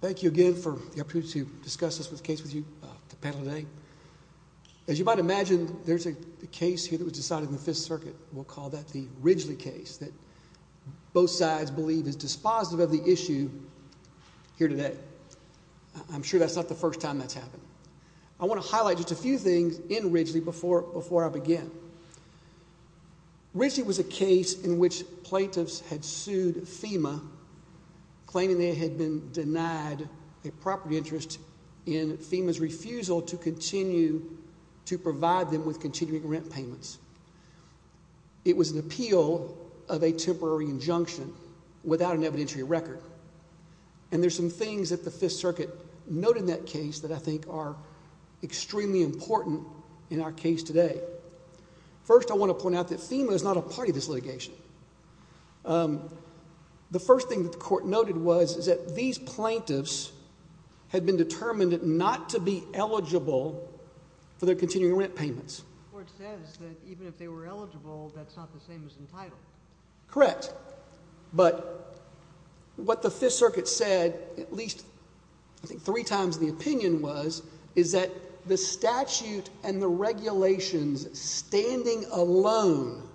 Thank you again for the opportunity to discuss this case with you, the panel today. As you might imagine, there's a case here that was decided in the 5th Circuit. We'll call that the Ridgely case that both sides believe is dispositive of the issue here today. I'm sure that's not the first time that's happened. I want to highlight just a few things in Ridgely before I begin. Ridgely was a case in which plaintiffs had sued FEMA, claiming they had been denied a property interest in FEMA's refusal to continue to provide them with continuing rent payments. It was an appeal of a temporary injunction without an evidentiary record. And there's some things that the 5th Circuit noted in that case that I think are extremely important in our case today. First I want to point out that FEMA is not a part of this litigation. The first thing that the court noted was that these plaintiffs had been determined not to be eligible for their continuing rent payments. The court says that even if they were eligible, that's not the same as entitled. Correct. But what the 5th Circuit said, at least I think three times the opinion was, is that the statute and the regulations standing alone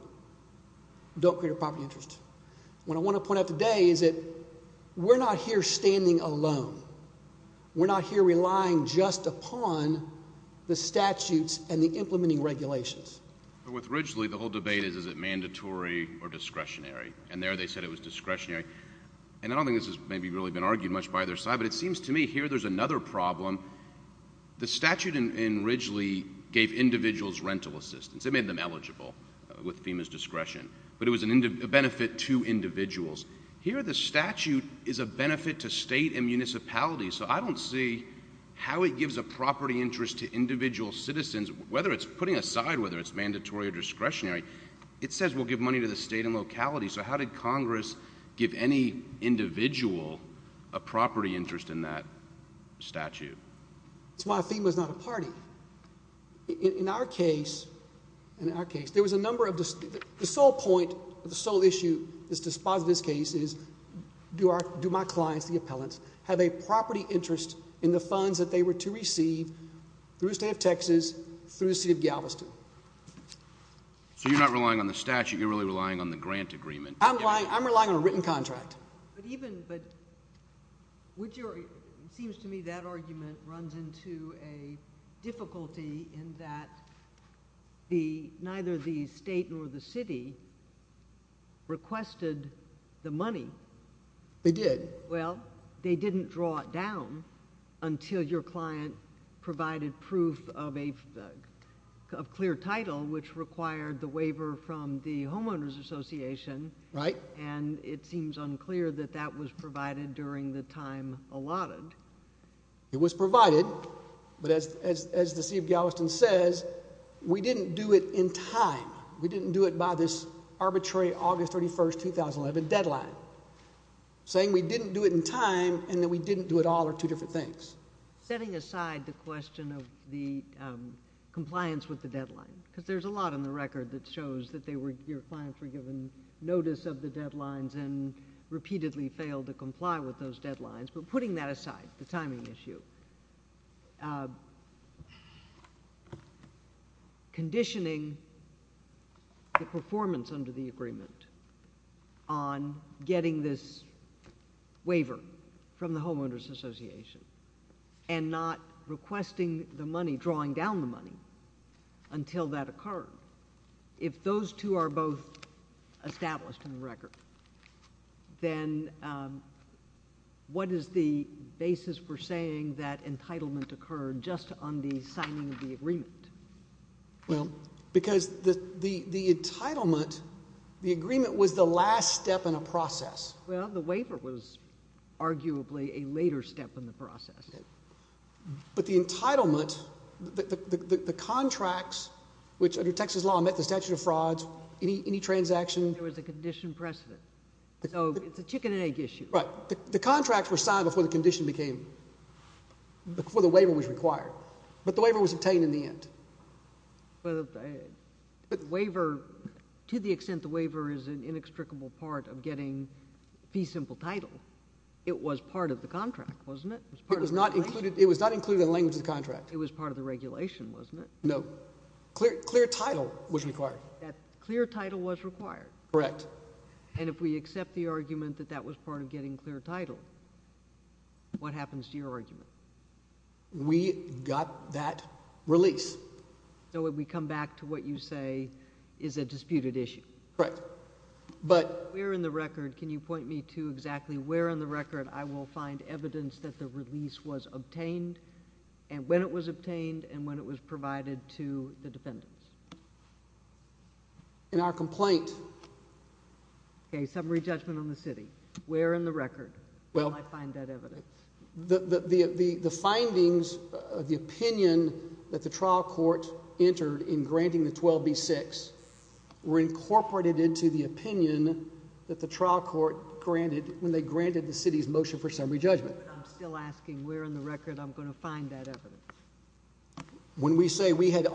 don't create a property interest. What I want to point out today is that we're not here standing alone. We're not here relying just upon the statutes and the implementing regulations. With Ridgely, the whole debate is, is it mandatory or discretionary? And there they said it was discretionary. And I don't think this has really been argued much by either side, but it seems to me here there's another problem. The statute in Ridgely gave individuals rental assistance. It made them eligible with FEMA's discretion, but it was a benefit to individuals. Here the statute is a benefit to state and municipalities, so I don't see how it gives a property interest to individual citizens, whether it's putting aside whether it's mandatory or discretionary. It says we'll give money to the state and locality, so how did Congress give any individual a property interest in that statute? That's why FEMA's not a party. In our case, there was a number of... The sole point, the sole issue is to sponsor this case is, do my clients, the appellants, have a property interest in the funds that they were to receive through the state of Texas, through the city of Galveston? So you're not relying on the statute, you're really relying on the grant agreement. I'm relying on a written contract. But even... It seems to me that argument runs into a difficulty in that neither the state nor the city requested the money. They did. Well, they didn't draw it down until your client provided proof of clear title, which required the waiver from the Homeowners Association. Right. Right. And it seems unclear that that was provided during the time allotted. It was provided, but as the city of Galveston says, we didn't do it in time. We didn't do it by this arbitrary August 31st, 2011 deadline. Saying we didn't do it in time and that we didn't do it all are two different things. Setting aside the question of the compliance with the deadline, because there's a lot on the record that shows that your clients were given notice of the deadlines and repeatedly failed to comply with those deadlines, but putting that aside, the timing issue, conditioning the performance under the agreement on getting this waiver from the Homeowners Association and not requesting the money, drawing down the money until that occurred, if those two are both established in the record, then what is the basis for saying that entitlement occurred just on the signing of the agreement? Well, because the entitlement, the agreement was the last step in a process. Well, the waiver was arguably a later step in the process. But the entitlement, the contracts, which under Texas law met the statute of frauds, any transaction. There was a condition precedent. So, it's a chicken and egg issue. Right. The contracts were signed before the condition became, before the waiver was required, but the waiver was obtained in the end. But the waiver, to the extent the waiver is an inextricable part of getting fee simple title, it was part of the contract, wasn't it? It was not included in the language of the contract. It was part of the regulation, wasn't it? No. Clear title was required. Clear title was required. Correct. And if we accept the argument that that was part of getting clear title, what happens to your argument? We got that release. So, we come back to what you say is a disputed issue. Right. But, where in the record, can you point me to exactly where in the record I will find evidence that the release was obtained, and when it was obtained, and when it was provided to the defendants? In our complaint. Okay, summary judgment on the city. Where in the record will I find that evidence? The findings, the opinion that the trial court entered in granting the 12B6 were incorporated into the opinion that the trial court granted when they granted the city's motion for summary judgment. I'm still asking where in the record I'm going to find that evidence. When we say we had met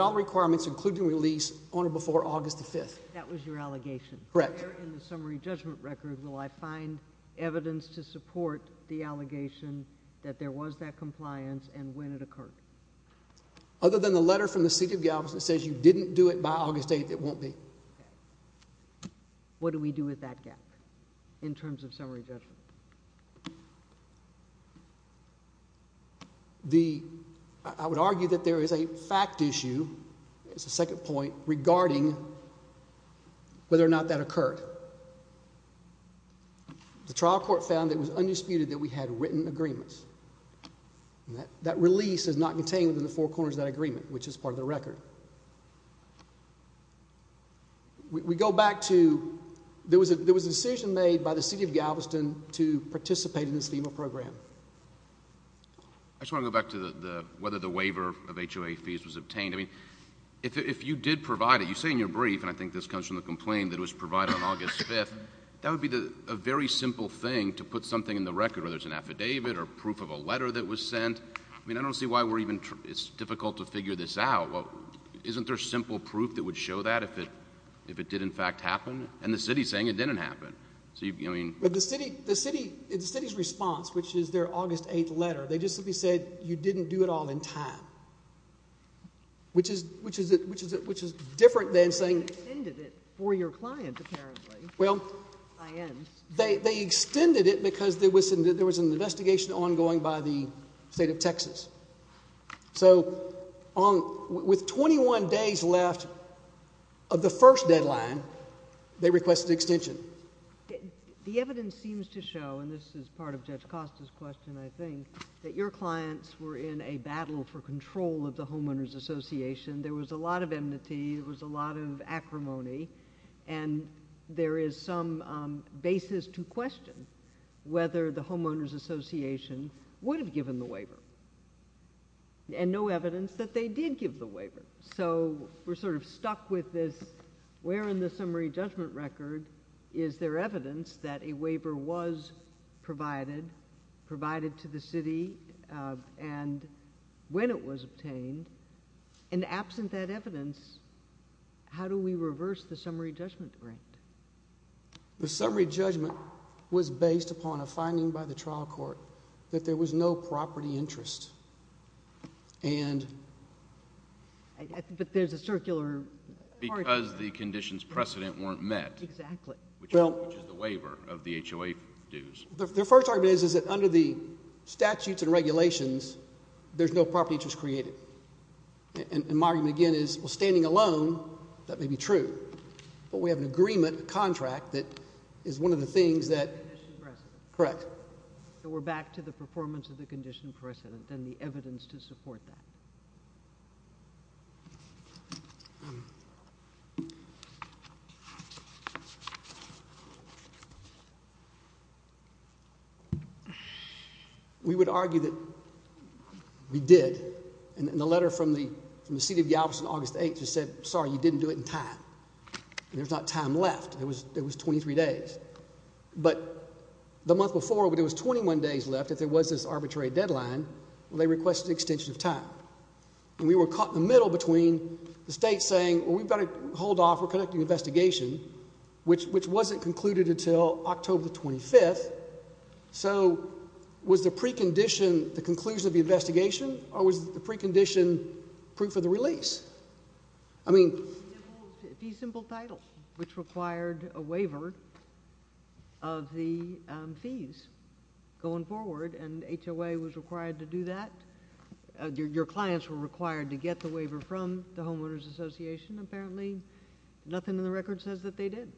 all requirements, including release, on or before August the 5th. That was your allegation. Correct. Where in the summary judgment record will I find evidence to support the allegation that there was that compliance, and when it occurred? Other than the letter from the city of Galveston that says you didn't do it by August 8th, it won't be. What do we do with that gap, in terms of summary judgment? I would argue that there is a fact issue, as a second point, regarding whether or not that occurred. The trial court found that it was undisputed that we had written agreements. That release is not contained within the four corners of that agreement, which is part of the record. We go back to, there was a decision made by the city of Galveston to participate in this FEMA program. I just want to go back to whether the waiver of HOA fees was obtained. If you did provide it, you say in your brief, and I think this comes from the complaint, that it was provided on August 5th, that would be a very simple thing to put something in the record, whether it's an affidavit or proof of a letter that was sent. I mean, I don't see why we're even, it's difficult to figure this out. Isn't there simple proof that would show that, if it did, in fact, happen? And the city is saying it didn't happen. The city's response, which is their August 8th letter, they just simply said you didn't do it all in time. Which is, which is, which is, which is different than saying... They extended it for your client, apparently. Well... Clients. They, they extended it because there was, there was an investigation ongoing by the state of Texas. So on, with 21 days left of the first deadline, they requested extension. The evidence seems to show, and this is part of Judge Costa's question, I think, that your control of the Homeowners Association, there was a lot of enmity, there was a lot of acrimony, and there is some basis to question whether the Homeowners Association would have given the waiver. And no evidence that they did give the waiver. So we're sort of stuck with this, where in the summary judgment record is there evidence that a waiver was provided, provided to the city, and when it was obtained, and absent that evidence, how do we reverse the summary judgment grant? The summary judgment was based upon a finding by the trial court that there was no property interest. And... But there's a circular... Because the conditions precedent weren't met. Exactly. Which is the waiver of the HOA dues. The first argument is that under the statutes and regulations, there's no property interest created. And my argument again is, well, standing alone, that may be true, but we have an agreement, a contract, that is one of the things that... Condition precedent. Correct. So we're back to the performance of the condition precedent and the evidence to support that. We would argue that we did, and the letter from the City of Galveston, August 8th, just said, sorry, you didn't do it in time, and there's not time left. It was 23 days. But the month before, when there was 21 days left, if there was this arbitrary deadline, well, they requested an extension of time. And we were caught in the middle between the state saying, well, we've got to hold off, we're conducting an investigation, which wasn't concluded until October 25th. So was the precondition the conclusion of the investigation, or was the precondition proof of the release? I mean... Fee symbol title, which required a waiver of the fees going forward, and HOA was required to do that. Your clients were required to get the waiver from the Homeowners Association. Apparently, nothing in the record says that they did,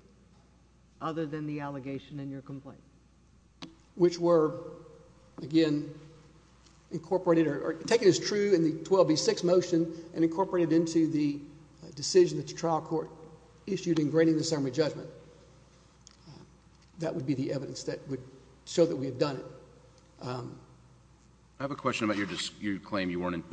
other than the allegation in your complaint. Which were, again, incorporated... or taken as true in the 12B6 motion and incorporated into the decision that the trial court issued in granting the summary judgment. That would be the evidence that would show that we had done it. I have a question about your claim you weren't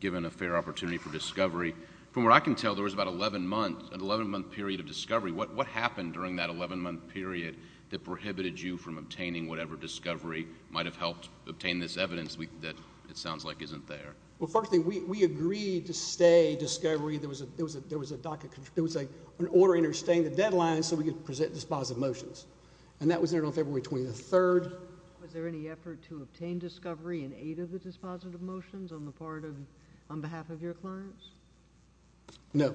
given a fair opportunity for discovery. From what I can tell, there was about 11 months, an 11-month period of discovery. What happened during that 11-month period that prohibited you from obtaining whatever discovery might have helped obtain this evidence that it sounds like isn't there? Well, first thing, we agreed to stay discovery. There was an order interstating the deadline so we could present dispositive motions. And that was entered on February 23rd. Was there any effort to obtain discovery in eight of the dispositive motions on behalf of your clients? No.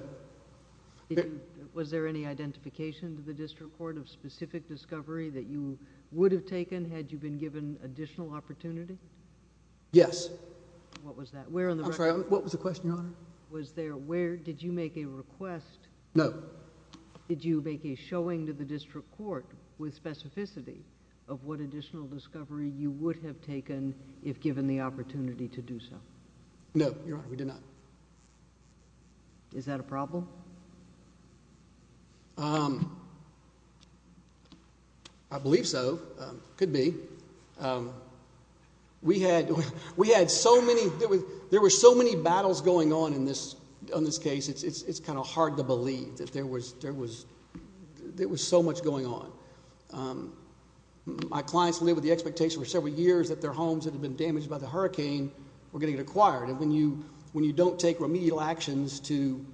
Was there any identification to the district court of specific discovery that you would have taken had you been given additional opportunity? Yes. What was that? I'm sorry, what was the question, Your Honor? Was there... did you make a request... No. Did you make a showing to the district court with specificity of what additional discovery you would have taken if given the opportunity to do so? No, Your Honor, we did not. Is that a problem? I believe so. It could be. We had so many... there were so many battles going on in this case, it's kind of hard to describe, but there was so much going on. My clients lived with the expectation for several years that their homes that had been damaged by the hurricane were going to get acquired, and when you don't take remedial actions to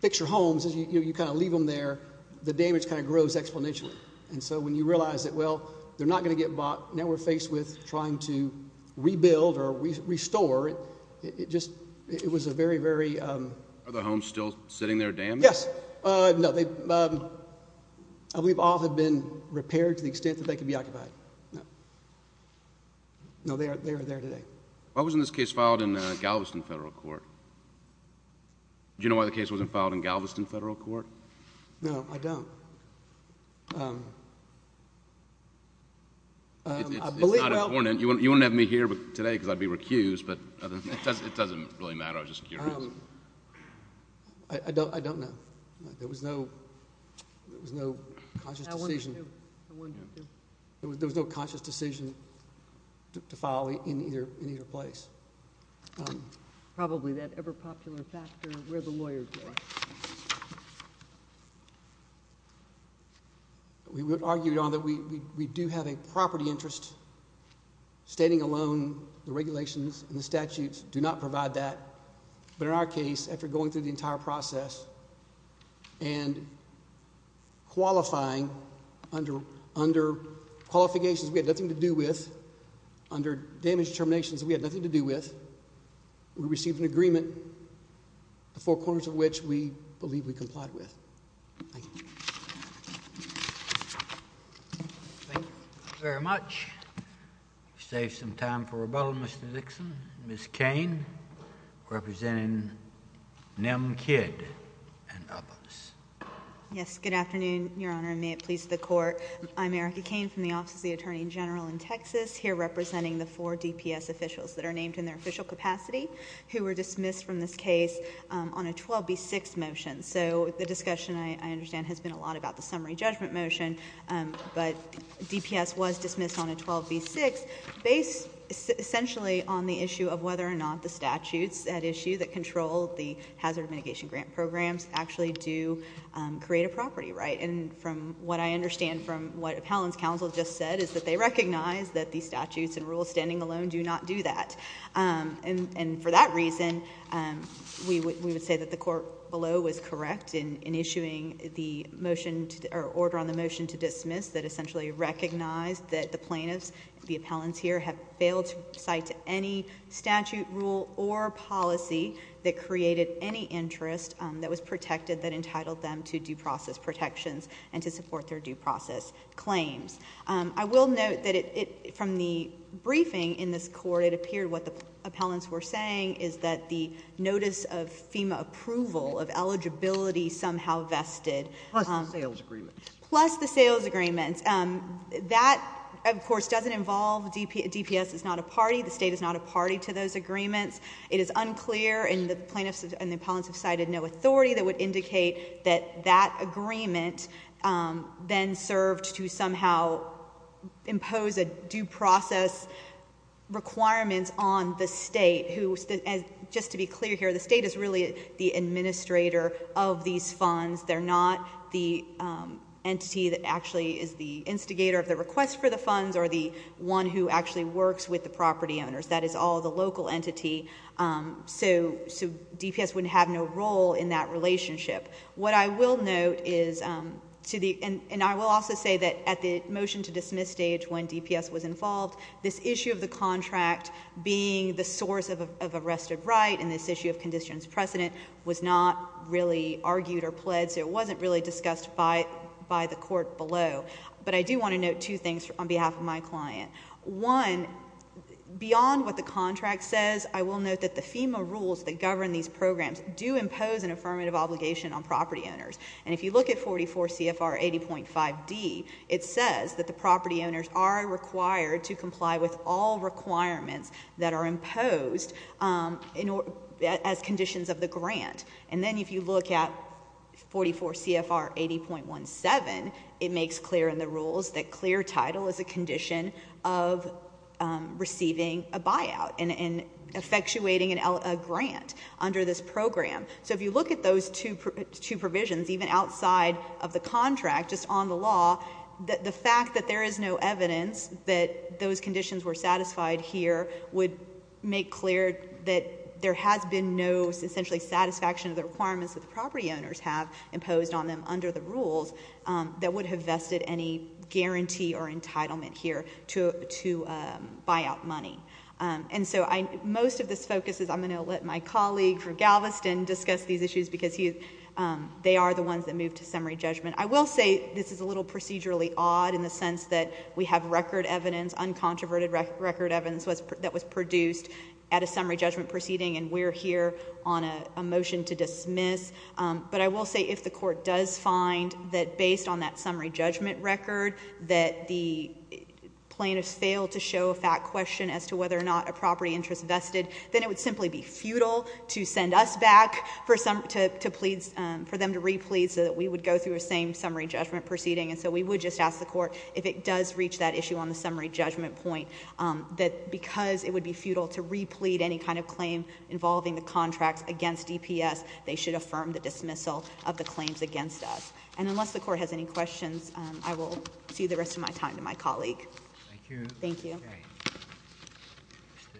fix your homes, you kind of leave them there, the damage kind of grows exponentially. And so when you realize that, well, they're not going to get bought, now we're faced with trying to rebuild or restore, it just... it was a very, very... Are the homes still sitting there damaged? Yes. No, they... I believe all have been repaired to the extent that they could be occupied. No, they are there today. Why wasn't this case filed in Galveston Federal Court? Do you know why the case wasn't filed in Galveston Federal Court? No, I don't. I believe... It's not important. You wouldn't have me here today because I'd be recused, but it doesn't really matter. I was just curious. I don't know. There was no... there was no conscious decision... I wonder, too. I wonder, too. There was no conscious decision to file in either place. Probably that ever-popular factor of where the lawyers were. We argued on that we do have a property interest. Stating alone, the regulations and the statutes do not provide that. But in our case, after going through the entire process and qualifying under qualifications we had nothing to do with, under damage determinations we had nothing to do with, we received an agreement, the four corners of which we believe we complied with. Thank you. Thank you very much. You saved some time for rebuttal, Mr. Dixon. Ms. Cain, representing Nem Kidd and others. Yes, good afternoon, Your Honor, and may it please the Court. I'm Erica Cain from the Office of the Attorney General in Texas, here representing the four DPS officials that are named in their official capacity, who were dismissed from this case on a 12B6 motion. So the discussion, I understand, has been a lot about the summary judgment motion, but DPS was dismissed on a 12B6 based essentially on the issue of whether or not the statutes at issue that control the hazard mitigation grant programs actually do create a property, right? And from what I understand from what Appellant's counsel just said, is that they recognize that the statutes and rules standing alone do not do that. And for that reason, we would say that the Court below was correct in issuing the order on the motion to dismiss that essentially recognized that the plaintiffs, the appellants here, have failed to cite any statute, rule, or policy that created any interest that was protected that entitled them to due process protections and to support their due process claims. I will note that from the briefing in this Court, it appeared what the appellants were saying is that the notice of FEMA approval of eligibility somehow vested. Plus the sales agreements. Plus the sales agreements. That, of course, doesn't involve DPS is not a party. The State is not a party to those agreements. It is unclear, and the plaintiffs and the appellants have cited no authority that would indicate that that agreement then served to somehow impose a due process requirement on the State. Just to be clear here, the State is really the administrator of these funds. They're not the entity that actually is the instigator of the request for the funds or the one who actually works with the property owners. That is all the local entity. So DPS would have no role in that relationship. What I will note is, and I will also say that at the motion to dismiss stage when DPS was involved, this issue of the contract being the source of arrested right and this issue of conditions precedent was not really argued or pledged. It wasn't really discussed by the Court below. But I do want to note two things on behalf of my client. One, beyond what the contract says, I will note that the FEMA rules that govern these programs do impose an affirmative obligation on property owners. And if you look at 44 CFR 80.5D, it says that the property owners are required to comply with all requirements that are imposed as conditions of the grant. And then if you look at 44 CFR 80.17, it makes clear in the rules that clear title is a condition of receiving a buyout and effectuating a grant under this program. So if you look at those two provisions, even outside of the contract, just on the law, the fact that there is no evidence that those conditions were satisfied here would make clear that there has been no, essentially, satisfaction of the requirements that the property owners have imposed on them under the rules that would have vested any guarantee or entitlement here to buyout money. And so most of this focus is I'm going to let my colleague from Galveston discuss these issues because they are the ones that move to summary judgment. I will say this is a little procedurally odd in the sense that we have record evidence, uncontroverted record evidence that was produced at a summary judgment proceeding and we're here on a motion to dismiss. But I will say if the court does find that based on that summary judgment record that the plaintiffs failed to show a fact question as to whether or not a property interest vested, then it would simply be futile to send us back for them to replete so that we would go through the same summary judgment proceeding. And so we would just ask the court if it does reach that issue on the summary judgment point that because it would be futile to replete any kind of claim involving the contracts against EPS, they should affirm the dismissal of the claims against us. And unless the court has any questions, I will give the rest of my time to my colleague. Thank you.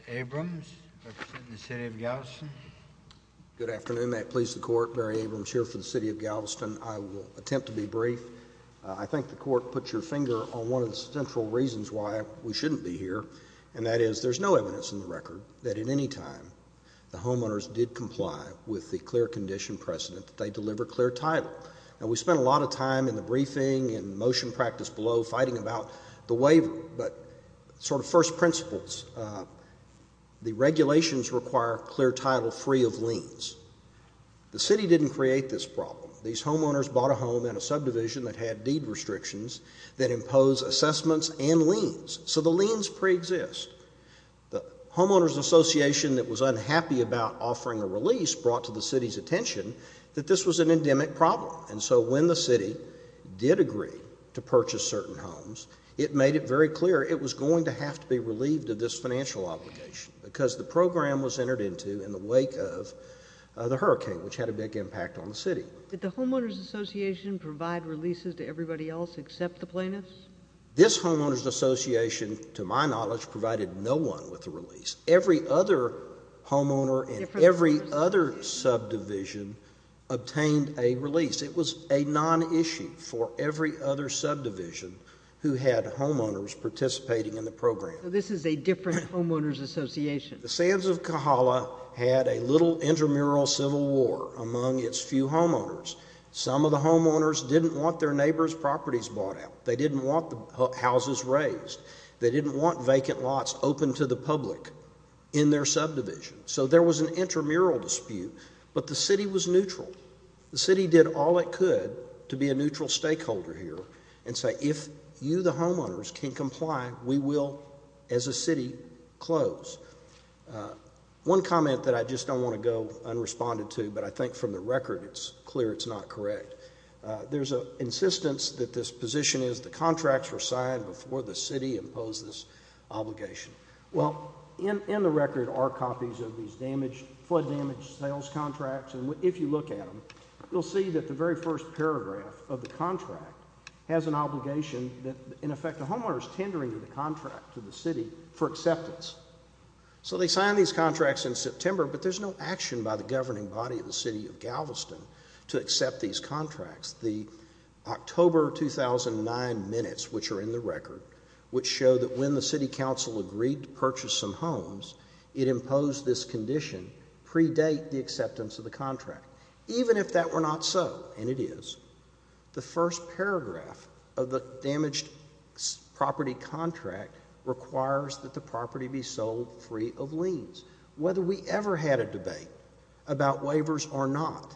Mr. Abrams, representing the city of Galveston. Good afternoon. May it please the court, Barry Abrams here for the city of Galveston. I will attempt to be brief. I think the court put your finger on one of the central reasons why we shouldn't be here, and that is there's no evidence in the record that at any time the homeowners did comply with the clear condition precedent that they deliver clear title. Now, we spent a lot of time in the briefing and motion practice below fighting about the way that sort of first principles, the regulations require clear title free of liens. The city didn't create this problem. These homeowners bought a home in a subdivision that had deed restrictions that impose assessments and liens. So the liens preexist. The homeowners association that was unhappy about offering a release brought to the city's attention that this was an endemic problem, and so when the city did agree to purchase certain homes, it made it very clear it was going to have to be relieved of this financial obligation because the program was entered into in the wake of the hurricane, which had a big impact on the city. Did the homeowners association provide releases to everybody else except the plaintiffs? This homeowners association, to my knowledge, provided no one with a release. Every other homeowner in every other subdivision obtained a release. It was a nonissue for every other subdivision who had homeowners participating in the program. So this is a different homeowners association. The Sands of Kohala had a little intramural civil war among its few homeowners. Some of the homeowners didn't want their neighbor's properties bought out. They didn't want the houses raised. They didn't want vacant lots open to the public in their subdivision. So there was an intramural dispute, but the city was neutral. The city did all it could to be a neutral stakeholder here and say, if you, the homeowners, can comply, we will, as a city, close. One comment that I just don't want to go unresponded to, but I think from the record it's clear it's not correct. There's an insistence that this position is the contracts were signed before the city imposed this obligation. Well, in the record are copies of these flood damage sales contracts, and if you look at them, you'll see that the very first paragraph of the contract has an obligation that, in effect, the homeowner is tendering the contract to the city for acceptance. So they signed these contracts in September, but there's no action by the governing body of the city of Galveston to accept these contracts. The October 2009 minutes, which are in the record, which show that when the city council agreed to purchase some homes, it imposed this condition, predate the acceptance of the contract. Even if that were not so, and it is, the first paragraph of the damaged property contract requires that the property be sold free of liens. Whether we ever had a debate about waivers or not,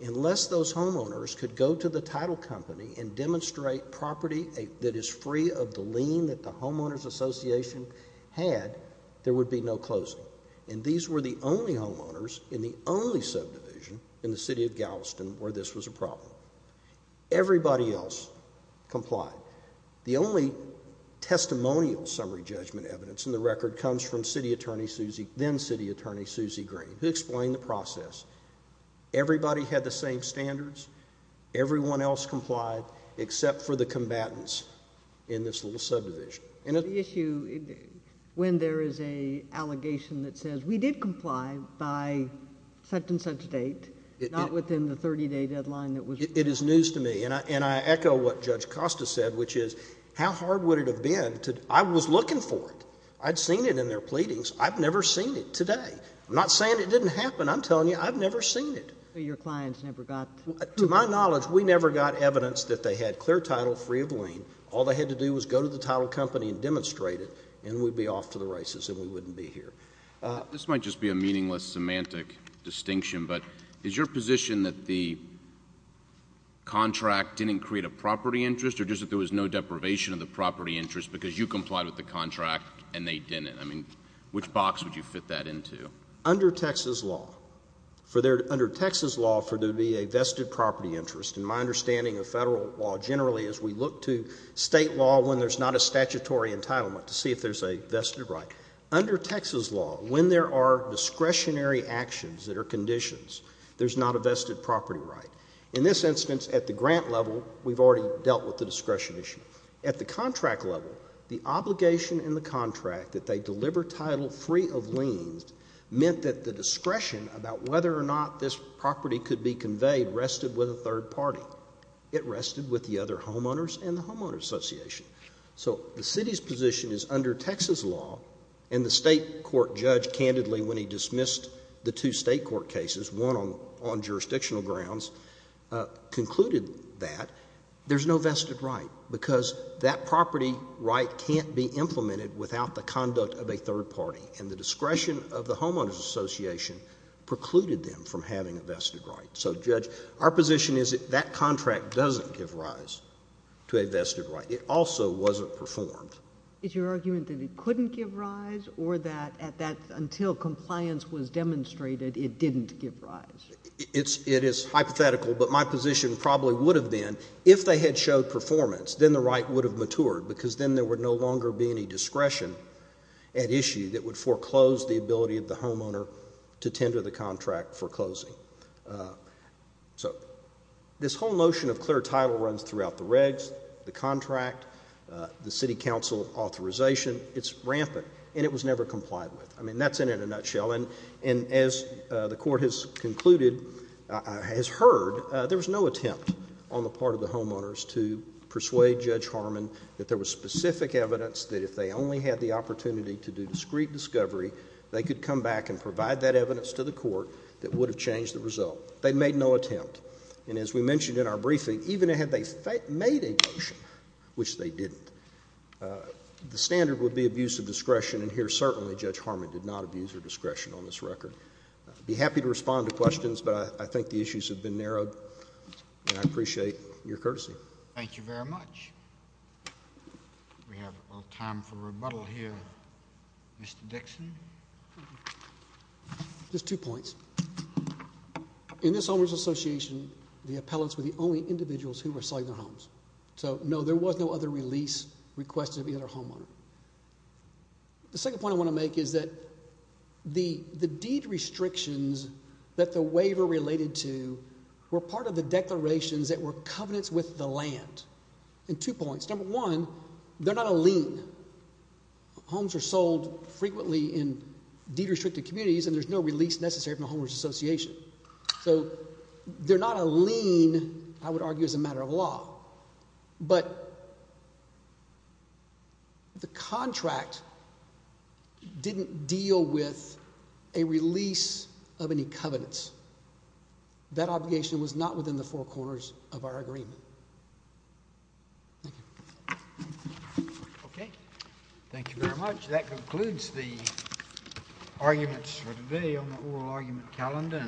unless those homeowners could go to the title company and demonstrate property that is free of the lien that the homeowners association had, there would be no closing. And these were the only homeowners in the only subdivision in the city of Galveston where this was a problem. Everybody else complied. The only testimonial summary judgment evidence in the record comes from then-City Attorney Susie Green, who explained the process. Everybody had the same standards. Everyone else complied except for the combatants in this little subdivision. The issue, when there is an allegation that says, we did comply by such and such date, not within the 30-day deadline. It is news to me. And I echo what Judge Costa said, which is, how hard would it have been? I was looking for it. I'd seen it in their pleadings. I've never seen it today. I'm not saying it didn't happen. I'm telling you, I've never seen it. Your clients never got it. To my knowledge, we never got evidence that they had clear title, free of lien. All they had to do was go to the title company and demonstrate it, and we'd be off to the races and we wouldn't be here. This might just be a meaningless semantic distinction, but is your position that the contract didn't create a property interest or just that there was no deprivation of the property interest because you complied with the contract and they didn't? I mean, which box would you fit that into? Under Texas law, for there to be a vested property interest, and my understanding of federal law generally is we look to state law when there's not a statutory entitlement to see if there's a vested right. Under Texas law, when there are discretionary actions that are conditions, there's not a vested property right. In this instance, at the grant level, we've already dealt with the discretion issue. At the contract level, the obligation in the contract that they deliver title free of lien meant that the discretion about whether or not this property could be conveyed rested with a third party. It rested with the other homeowners and the homeowners association. So the city's position is under Texas law, and the state court judge candidly when he dismissed the two state court cases, one on jurisdictional grounds, concluded that there's no vested right because that property right can't be implemented without the conduct of a third party, and the discretion of the homeowners association precluded them from having a vested right. So, Judge, our position is that that contract doesn't give rise to a vested right. It also wasn't performed. Is your argument that it couldn't give rise or that until compliance was demonstrated it didn't give rise? It is hypothetical, but my position probably would have been if they had showed performance, then the right would have matured because then there would no longer be any discretion at issue that would foreclose the ability of the homeowner to tender the contract for closing. So this whole notion of clear title runs throughout the regs, the contract, the city council authorization. It's rampant, and it was never complied with. I mean, that's in it in a nutshell, and as the court has concluded, has heard, there was no attempt on the part of the homeowners to persuade Judge Harmon that there was specific evidence that if they only had the opportunity to do discreet discovery, they could come back and provide that evidence to the court that would have changed the result. They made no attempt, and as we mentioned in our briefing, even had they made a motion, which they didn't, the standard would be abuse of discretion, and here certainly Judge Harmon did not abuse her discretion on this record. I'd be happy to respond to questions, but I think the issues have been narrowed, and I appreciate your courtesy. Thank you very much. We have a little time for rebuttal here. Mr. Dixon? Just two points. In this Homeowners Association, the appellants were the only individuals who were selling their homes. So, no, there was no other release requested of the other homeowner. The second point I want to make is that the deed restrictions that the waiver related to were part of the declarations that were covenants with the land. And two points. Number one, they're not a lien. Homes are sold frequently in deed-restricted communities, and there's no release necessary from the Homeowners Association. So they're not a lien, I would argue, as a matter of law. But the contract didn't deal with a release of any covenants. That obligation was not within the four corners of our agreement. Thank you. Okay. Thank you very much. That concludes the arguments for today on the oral argument calendar.